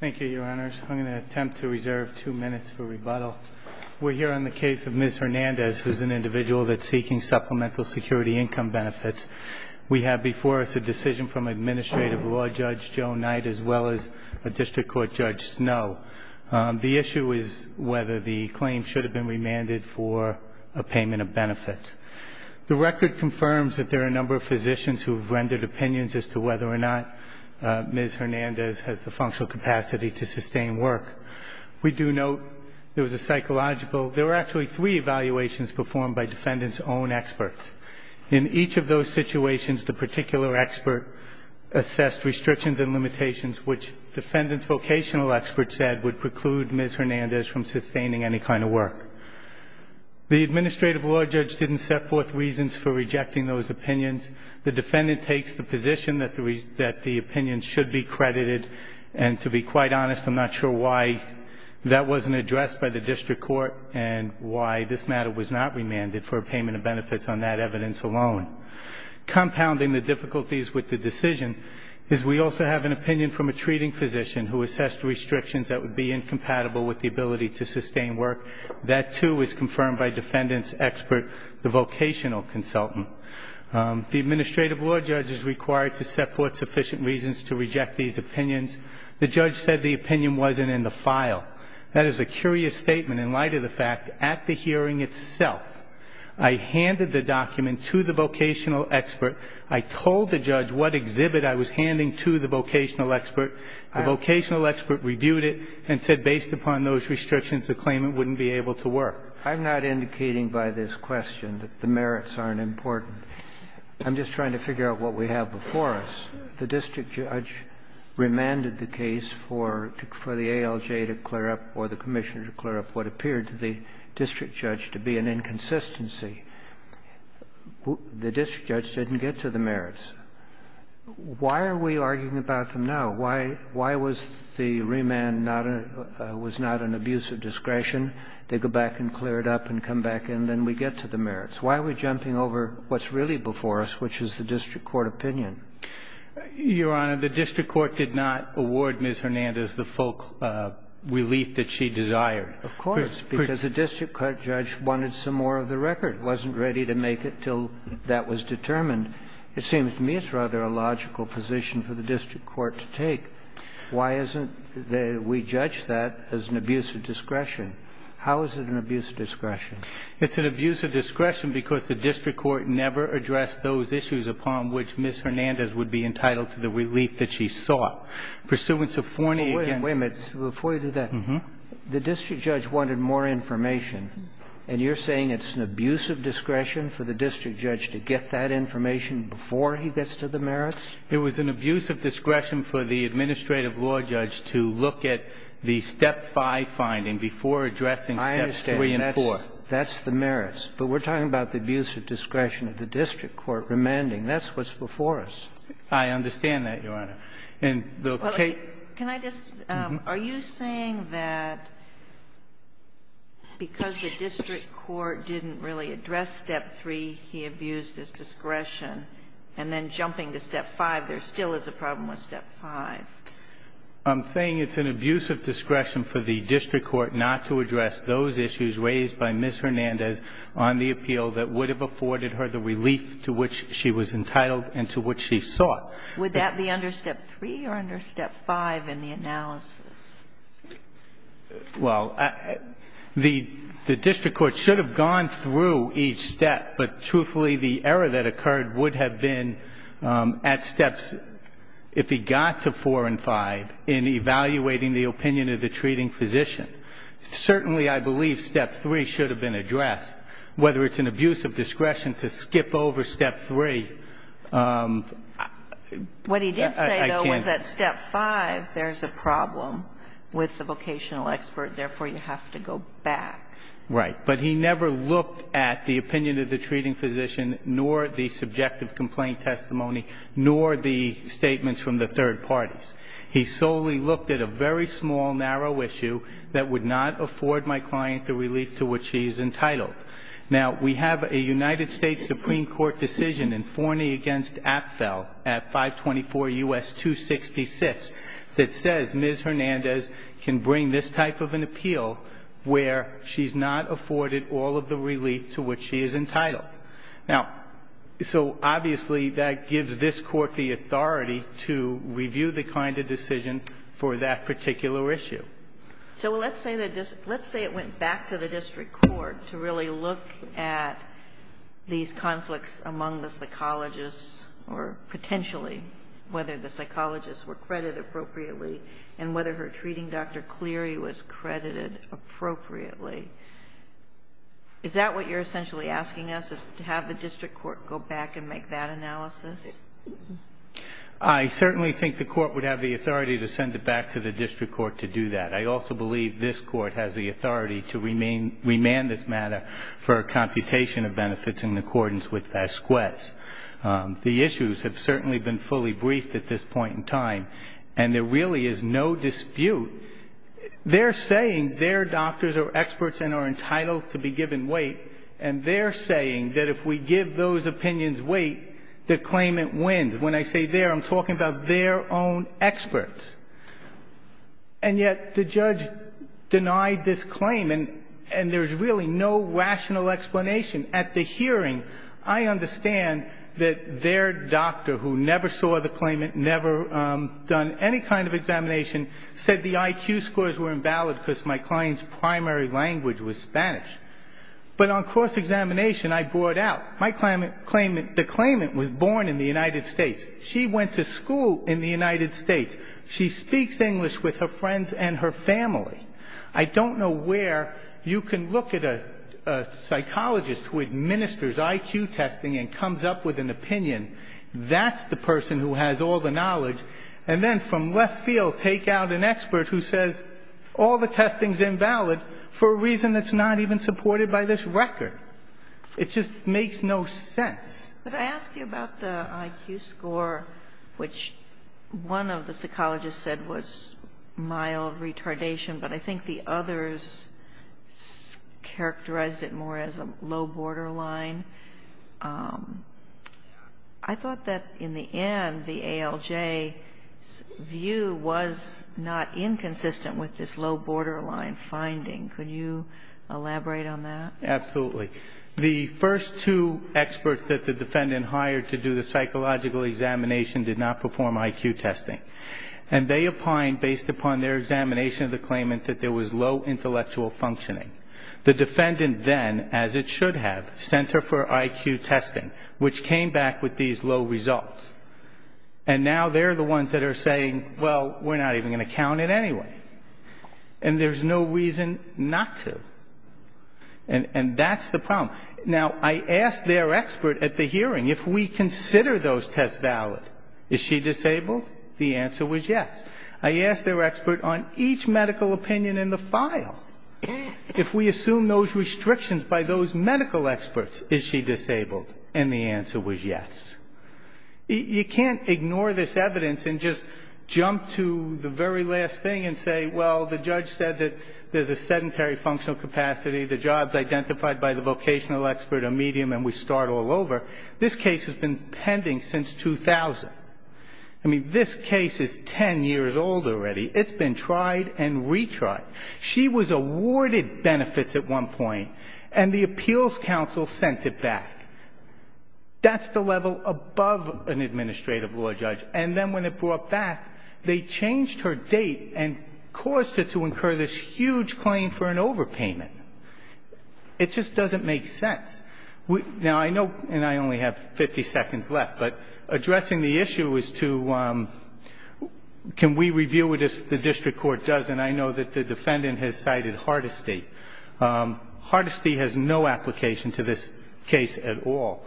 Thank you, Your Honors. I'm going to attempt to reserve two minutes for rebuttal. We're here on the case of Ms. Hernandez, who's an individual that's seeking supplemental security income benefits. We have before us a decision from Administrative Law Judge Joe Knight as well as a District Court Judge Snow. The issue is whether the claim should have been remanded for a payment of benefits. The record confirms that there are a number of physicians who have rendered opinions as to whether or not Ms. Hernandez has the functional capacity to sustain work. We do note there was a psychological – there were actually three evaluations performed by defendants' own experts. In each of those situations, the particular expert assessed restrictions and limitations which defendants' vocational experts said would preclude Ms. Hernandez from sustaining any kind of work. The Administrative Law Judge didn't set forth reasons for rejecting those opinions. The defendant takes the position that the opinion should be credited. And to be quite honest, I'm not sure why that wasn't addressed by the District Court and why this matter was not remanded for a payment of benefits on that evidence alone. Compounding the difficulties with the decision is we also have an opinion from a treating physician who assessed restrictions that would be incompatible with the ability to sustain work. That, too, is confirmed by defendant's expert, the vocational consultant. The Administrative Law Judge is required to set forth sufficient reasons to reject these opinions. The judge said the opinion wasn't in the file. That is a curious statement in light of the fact at the hearing itself I handed the document to the vocational expert. I told the judge what exhibit I was handing to the vocational expert. The vocational expert reviewed it and said based upon those restrictions the claimant wouldn't be able to work. I'm not indicating by this question that the merits aren't important. I'm just trying to figure out what we have before us. The district judge remanded the case for the ALJ to clear up or the Commissioner to clear up what appeared to the district judge to be an inconsistency. The district judge didn't get to the merits. Why are we arguing about them now? Why was the remand not a – was not an abuse of discretion? They go back and clear it up and come back and then we get to the merits. Why are we jumping over what's really before us, which is the district court opinion? Your Honor, the district court did not award Ms. Hernandez the full relief that she desired. Of course. Because the district court judge wanted some more of the record, wasn't ready to make it until that was determined. It seems to me it's rather a logical position for the district court to take. Why isn't the – we judge that as an abuse of discretion. How is it an abuse of discretion? It's an abuse of discretion because the district court never addressed those issues upon which Ms. Hernandez would be entitled to the relief that she sought. Pursuant to Forney against – Wait a minute. Before you do that, the district judge wanted more information, and you're saying it's an abuse of discretion for the district judge to get that information before he gets to the merits? It was an abuse of discretion for the administrative law judge to look at the Step 5 finding before addressing Steps 3 and 4. I understand. That's the merits. But we're talking about the abuse of discretion of the district court remanding. That's what's before us. I understand that, Your Honor. And the case – If the district judge didn't really address Step 3, he abused his discretion, and then jumping to Step 5, there still is a problem with Step 5. I'm saying it's an abuse of discretion for the district court not to address those issues raised by Ms. Hernandez on the appeal that would have afforded her the relief to which she was entitled and to which she sought. Would that be under Step 3 or under Step 5 in the analysis? Well, the district court should have gone through each step, but truthfully, the error that occurred would have been at Steps – if he got to 4 and 5 in evaluating the opinion of the treating physician. Certainly, I believe Step 3 should have been addressed. Whether it's an abuse of discretion to skip over Step 3, I can't. But was that Step 5, there's a problem with the vocational expert, therefore, you have to go back. Right. But he never looked at the opinion of the treating physician nor the subjective complaint testimony nor the statements from the third parties. He solely looked at a very small, narrow issue that would not afford my client the relief to which she is entitled. Now, we have a United States Supreme Court decision in Forney v. Apfel at 524 U.S. 266 that says Ms. Hernandez can bring this type of an appeal where she's not afforded all of the relief to which she is entitled. Now, so obviously, that gives this Court the authority to review the kind of decision for that particular issue. So let's say it went back to the district court to really look at these conflicts among the psychologists or potentially whether the psychologists were credited appropriately and whether her treating Dr. Cleary was credited appropriately. Is that what you're essentially asking us, is to have the district court go back and make that analysis? I certainly think the court would have the authority to send it back to the district court to do that. I also believe this Court has the authority to remand this matter for a computation of benefits in accordance with SQS. The issues have certainly been fully briefed at this point in time, and there really is no dispute. They're saying their doctors are experts and are entitled to be given weight, and they're saying that if we give those opinions weight, the claimant wins. When I say they're, I'm talking about their own experts. And yet the judge denied this claim, and there's really no rational explanation at the hearing. I understand that their doctor, who never saw the claimant, never done any kind of examination, said the IQ scores were invalid because my client's primary language was Spanish. But on cross-examination, I brought out, my claimant, the claimant was born in the United States. She went to school in the United States. She speaks English with her friends and her family. I don't know where you can look at a psychologist who administers IQ testing and comes up with an opinion. That's the person who has all the knowledge. And then from left field, take out an expert who says all the testing's invalid for a reason that's not even supported by this record. It just makes no sense. But I ask you about the IQ score, which one of the psychologists said was mild retardation, but I think the others characterized it more as a low borderline. I thought that in the end, the ALJ's view was not inconsistent with this low borderline finding. Could you elaborate on that? Absolutely. The first two experts that the defendant hired to do the psychological examination did not perform IQ testing. And they opined based upon their examination of the claimant that there was low intellectual functioning. The defendant then, as it should have, sent her for IQ testing, which came back with these low results. And now they're the ones that are saying, well, we're not even going to count it anyway. And there's no reason not to. And that's the problem. Now, I asked their expert at the hearing, if we consider those tests valid, is she disabled? The answer was yes. I asked their expert on each medical opinion in the file, if we assume those restrictions by those medical experts, is she disabled? And the answer was yes. You can't ignore this evidence and just jump to the very last thing and say, well, the judge said that there's a sedentary functional capacity, the jobs identified by the vocational expert are medium, and we start all over. This case has been pending since 2000. I mean, this case is 10 years old already. It's been tried and retried. She was awarded benefits at one point, and the appeals counsel sent it back. That's the level above an administrative law judge. And then when it brought back, they changed her date and caused her to incur this huge claim for an overpayment. It just doesn't make sense. Now, I know, and I only have 50 seconds left, but addressing the issue is to can we review it as the district court does? And I know that the defendant has cited Hardesty. Hardesty has no application to this case at all.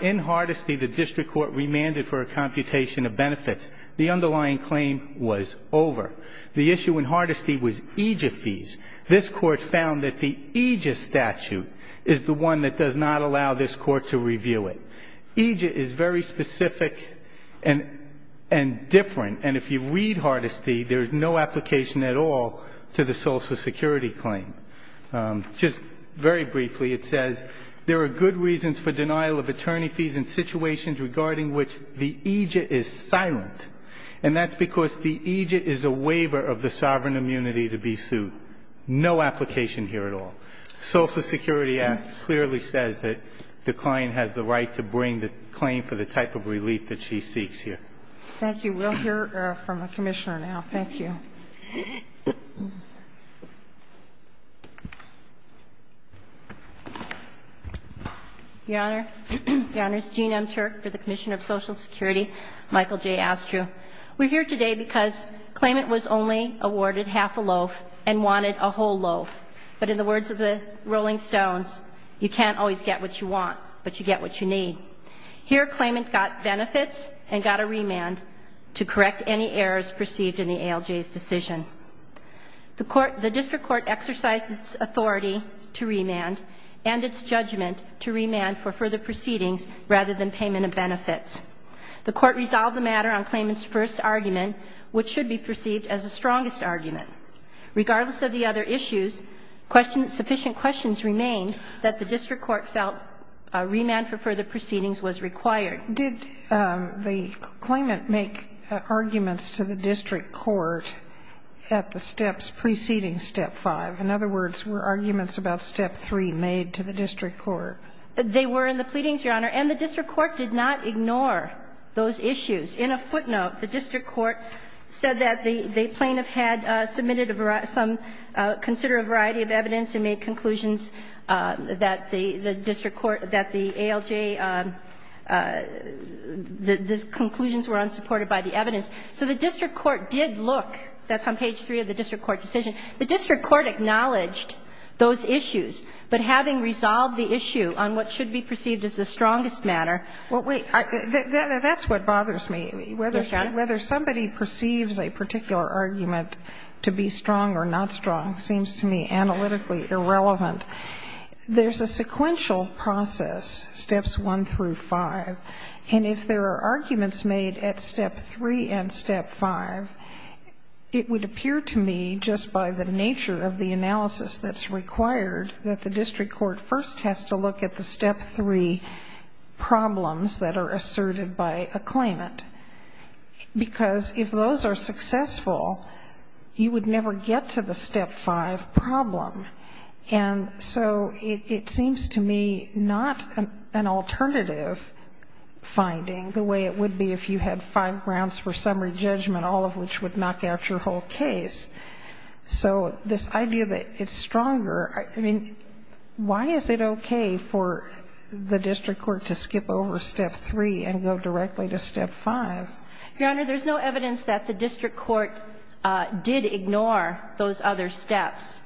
In Hardesty, the district court remanded for a computation of benefits. The underlying claim was over. The issue in Hardesty was Aegis fees. This Court found that the Aegis statute is the one that does not allow this Court to review it. Aegis is very specific and different, and if you read Hardesty, there is no application at all to the Social Security claim. Just very briefly, it says, there are good reasons for denial of attorney fees in situations regarding which the Aegis is silent, and that's because the Aegis is a waiver of the sovereign immunity to be sued. No application here at all. Social Security Act clearly says that the client has the right to bring the claim for the type of relief that she seeks here. Thank you. We'll hear from the Commissioner now. Thank you. Your Honor, it's Jean M. Turk for the Commission of Social Security. Michael J. Astrew. We're here today because claimant was only awarded half a loaf and wanted a whole loaf. But in the words of the Rolling Stones, you can't always get what you want, but you get what you need. Here, claimant got benefits and got a remand to correct any errors perceived in the ALJ's decision. The District Court exercised its authority to remand and its judgment to remand for further proceedings rather than payment of benefits. The Court resolved the matter on claimant's first argument, which should be perceived as the strongest argument. Regardless of the other issues, sufficient questions remained that the District Court felt a remand for further proceedings was required. Did the claimant make arguments to the District Court at the steps preceding Step 5? In other words, were arguments about Step 3 made to the District Court? They were in the pleadings, Your Honor. And the District Court did not ignore those issues. In a footnote, the District Court said that the plaintiff had submitted a variety of some, considered a variety of evidence and made conclusions that the District Court, that the ALJ, the conclusions were unsupported by the evidence. So the District Court did look. That's on page 3 of the District Court decision. The District Court acknowledged those issues. But having resolved the issue on what should be perceived as the strongest matter, what we are. That's what bothers me. Whether somebody perceives a particular argument to be strong or not strong seems to me analytically irrelevant. There's a sequential process, Steps 1 through 5, and if there are arguments made at Step 3 and Step 5, it would appear to me just by the nature of the analysis that's required that the District Court first has to look at the Step 3 problems that are asserted by a claimant. Because if those are successful, you would never get to the Step 5 problem. And so it seems to me not an alternative finding the way it would be if you had five grounds for summary judgment, all of which would knock out your whole case. So this idea that it's stronger, I mean, why is it okay for the District Court to skip over Step 3 and go directly to Step 5? Your Honor, there's no evidence that the District Court did ignore those other steps.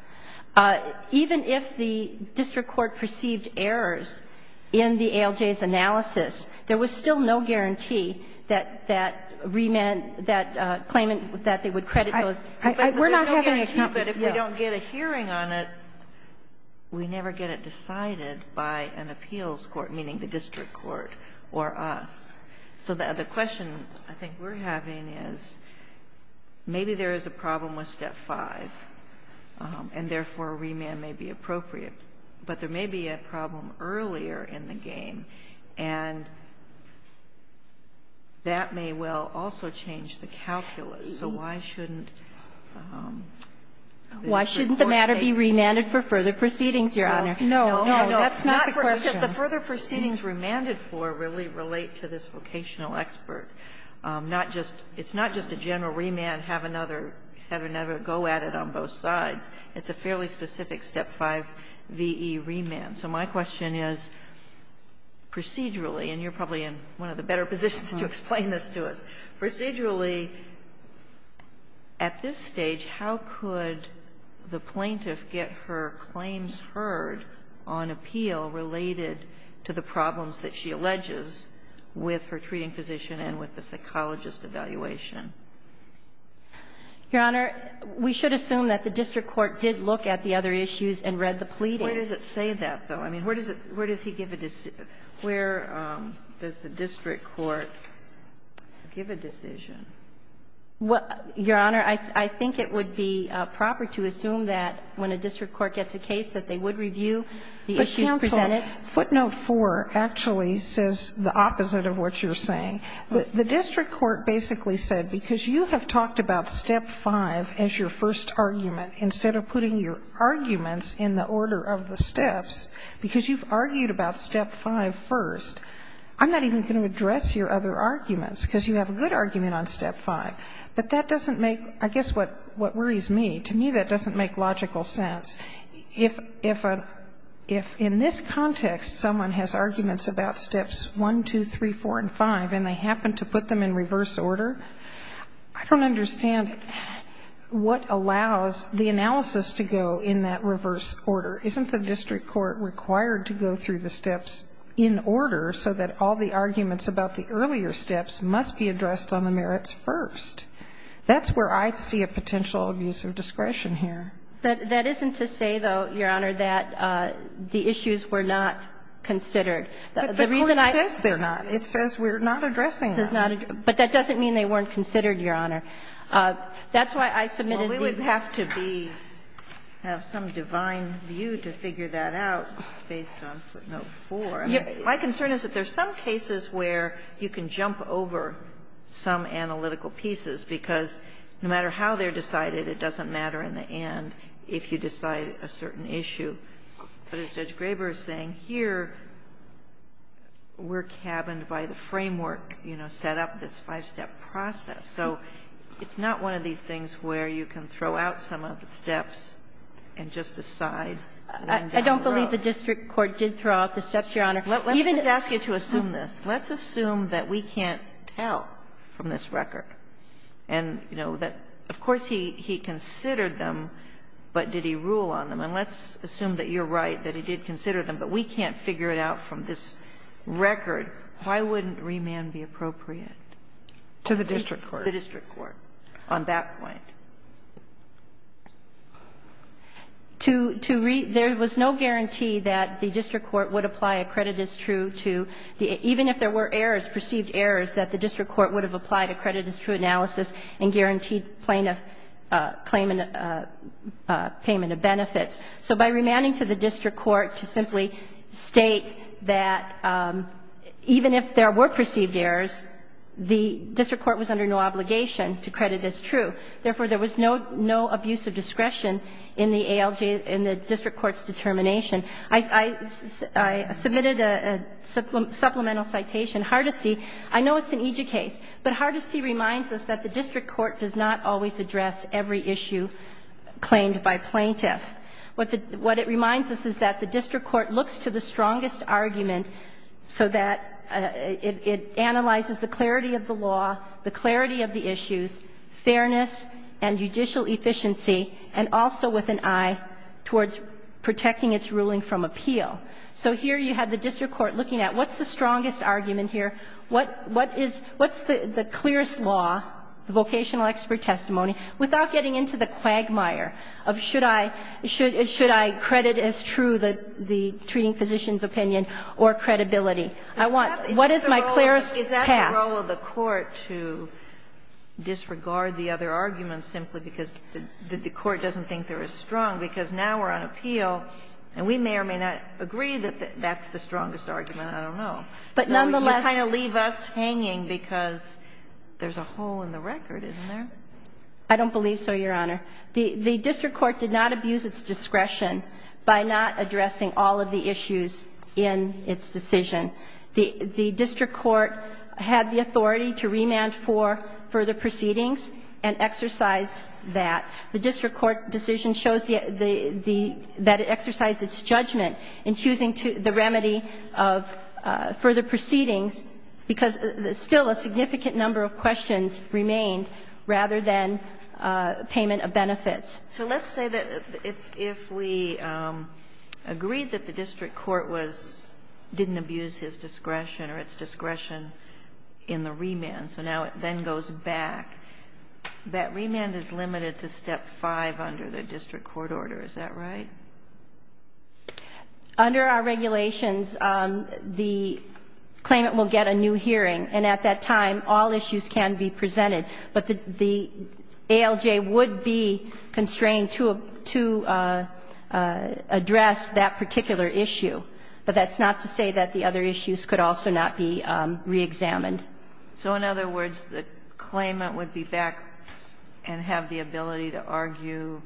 Even if the District Court perceived errors in the ALJ's analysis, there was still no guarantee that that claimant, that they would credit those. But if we don't get a hearing on it, we never get it decided by an appeals court, meaning the District Court or us. So the question I think we're having is, maybe there is a problem with Step 5, and therefore, remand may be appropriate. But there may be a problem earlier in the game, and that may well also change the District Court's case. Kagan, why shouldn't the matter be remanded for further proceedings, Your Honor? No, no, that's not the question. The further proceedings remanded for really relate to this vocational expert. Not just – it's not just a general remand, have another go at it on both sides. It's a fairly specific Step 5 V.E. remand. So my question is, procedurally, and you're probably in one of the better positions to explain this to us. Procedurally, at this stage, how could the plaintiff get her claims heard on appeal related to the problems that she alleges with her treating physician and with the psychologist evaluation? Your Honor, we should assume that the District Court did look at the other issues and read the pleadings. Where does it say that, though? I mean, where does it – where does he give a – where does the District Court give a decision? Well, Your Honor, I think it would be proper to assume that when a District Court gets a case that they would review the issues presented. But, counsel, footnote 4 actually says the opposite of what you're saying. The District Court basically said, because you have talked about Step 5 as your first argument, instead of putting your arguments in the order of the steps, because you've argued about Step 5 first, I'm not even going to address your other arguments, because you have a good argument on Step 5. But that doesn't make – I guess what worries me, to me that doesn't make logical sense. If in this context someone has arguments about Steps 1, 2, 3, 4, and 5, and they happen to put them in reverse order, I don't understand what allows the analysis to go in that reverse order. Isn't the District Court required to go through the steps in order so that all the arguments about the earlier steps must be addressed on the merits first? That's where I see a potential abuse of discretion here. That isn't to say, though, Your Honor, that the issues were not considered. The reason I – But the court says they're not. It says we're not addressing them. But that doesn't mean they weren't considered, Your Honor. That's why I submitted the – Well, we would have to be – have some divine view to figure that out based on footnote 4. My concern is that there's some cases where you can jump over some analytical pieces, because no matter how they're decided, it doesn't matter in the end if you decide a certain issue. But as Judge Graber is saying, here we're cabined by the framework, you know, set up this five-step process. So it's not one of these things where you can throw out some of the steps and just decide one down the road. I don't believe the District Court did throw out the steps, Your Honor. Even if – Let me just ask you to assume this. Let's assume that we can't tell from this record and, you know, that of course he considered them, but did he rule on them. And let's assume that you're right, that he did consider them, but we can't figure it out from this record. Why wouldn't remand be appropriate? To the District Court. The District Court. On that point. To – there was no guarantee that the District Court would apply a credit as true to – even if there were errors, perceived errors, that the District Court would have applied a credit as true analysis and guaranteed plaintiff payment of benefits. So by remanding to the District Court to simply state that even if there were perceived errors, the District Court was under no obligation to credit as true. Therefore, there was no abuse of discretion in the ALJ – in the District Court's determination. I submitted a supplemental citation. Hardesty – I know it's an EJIA case, but Hardesty reminds us that the District Court does not always address every issue claimed by plaintiff. What it reminds us is that the District Court looks to the strongest argument so that it analyzes the clarity of the law, the clarity of the issues, fairness and judicial efficiency, and also with an eye towards protecting its ruling from appeal. So here you had the District Court looking at what's the strongest argument here, what is – what's the clearest law, the vocational expert testimony, without getting into the quagmire of should I credit as true the treating physician's opinion or credibility? I want – what is my clearest path? Is that the role of the court to disregard the other arguments simply because the court doesn't think they're as strong? Because now we're on appeal, and we may or may not agree that that's the strongest argument, I don't know. But nonetheless – So you kind of leave us hanging because there's a hole in the record, isn't there? I don't believe so, Your Honor. The District Court did not abuse its discretion by not addressing all of the issues in its decision. The District Court had the authority to remand for further proceedings and exercised that. The District Court decision shows the – that it exercised its judgment in choosing the remedy of further proceedings because still a significant number of questions remained rather than payment of benefits. So let's say that if we agreed that the District Court was – didn't abuse his discretion or its discretion in the remand, so now it then goes back, that remand is limited to step five under the District Court order, is that right? Under our regulations, the claimant will get a new hearing, and at that time, all issues can be presented. But the ALJ would be constrained to address that particular issue. But that's not to say that the other issues could also not be reexamined. So in other words, the claimant would be back and have the ability to argue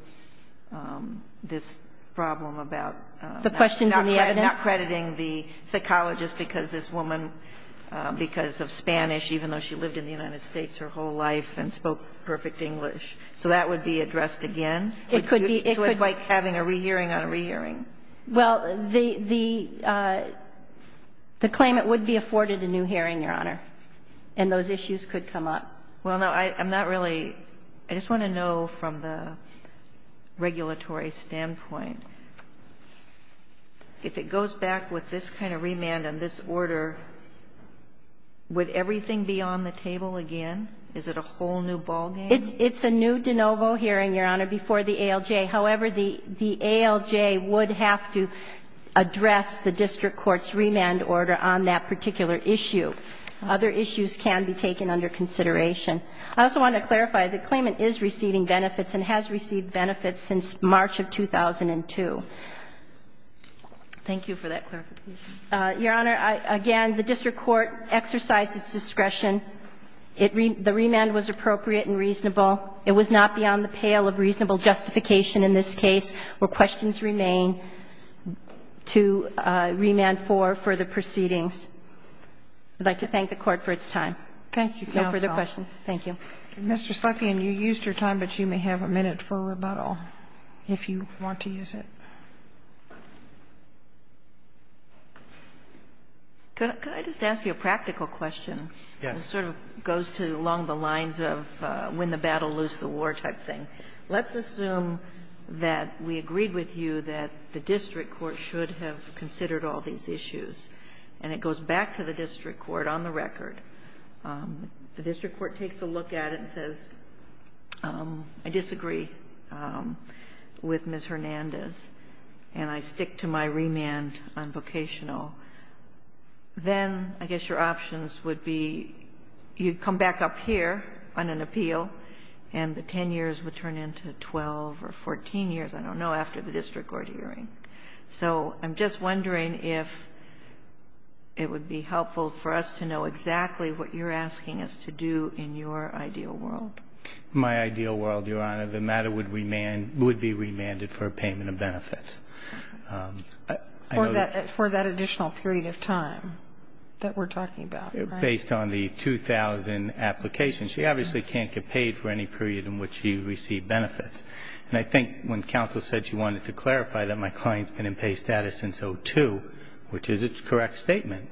this problem about – The questions and the evidence? Not crediting the psychologist because this woman, because of Spanish, even though she lived in the United States her whole life and spoke perfect English, so that would be addressed again? It could be. So it's like having a rehearing on a rehearing. Well, the claimant would be afforded a new hearing, Your Honor, and those issues could come up. Well, no, I'm not really – I just want to know from the regulatory standpoint, if it goes back with this kind of remand and this order, would everything be on the table again? Is it a whole new ballgame? It's a new de novo hearing, Your Honor, before the ALJ. However, the ALJ would have to address the district court's remand order on that particular issue. Other issues can be taken under consideration. I also want to clarify, the claimant is receiving benefits and has received benefits since March of 2002. Thank you for that clarification. Your Honor, again, the district court exercised its discretion. The remand was appropriate and reasonable. It was not beyond the pale of reasonable justification in this case where questions remain to remand for further proceedings. I'd like to thank the Court for its time. Thank you, counsel. No further questions. Thank you. Mr. Slepian, you used your time, but you may have a minute for rebuttal if you want to use it. Could I just ask you a practical question? Yes. It sort of goes along the lines of when the battle loosed the war type thing. Let's assume that we agreed with you that the district court should have considered all these issues. And it goes back to the district court on the record. The district court takes a look at it and says, I disagree with Ms. Hernandez, and I stick to my remand on vocational. Then I guess your options would be you come back up here on an appeal, and the 10 years would turn into 12 or 14 years, I don't know, after the district court hearing. So I'm just wondering if it would be helpful for us to know exactly what you're asking us to do in your ideal world. In my ideal world, Your Honor, the matter would be remanded for a payment of benefits. For that additional period of time that we're talking about. Based on the 2000 application. She obviously can't get paid for any period in which she received benefits. And I think when counsel said she wanted to clarify that my client's been in pay status since 2002, which is its correct statement,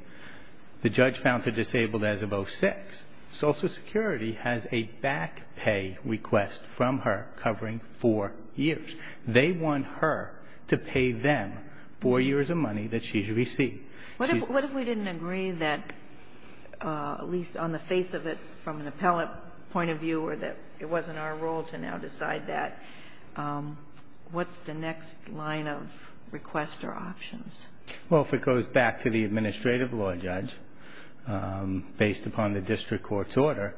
the judge found her disabled as of 2006. Social Security has a back pay request from her covering four years. They want her to pay them four years of money that she's received. What if we didn't agree that, at least on the face of it from an appellate point of view, or that it wasn't our role to now decide that? What's the next line of requests or options? Well, if it goes back to the administrative law judge, based upon the district court's order,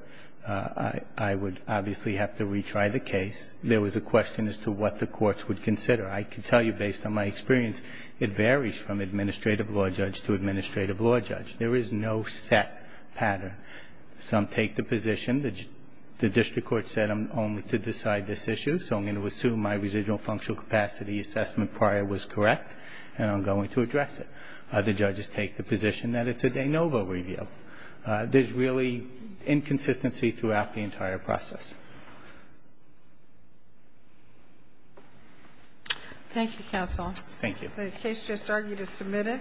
I would obviously have to retry the case. There was a question as to what the courts would consider. I can tell you, based on my experience, it varies from administrative law judge to administrative law judge. There is no set pattern. Some take the position that the district court said I'm only to decide this issue, so I'm going to assume my residual functional capacity assessment prior was correct, and I'm going to address it. Other judges take the position that it's a de novo review. There's really inconsistency throughout the entire process. Thank you, counsel. Thank you. The case just argued is submitted.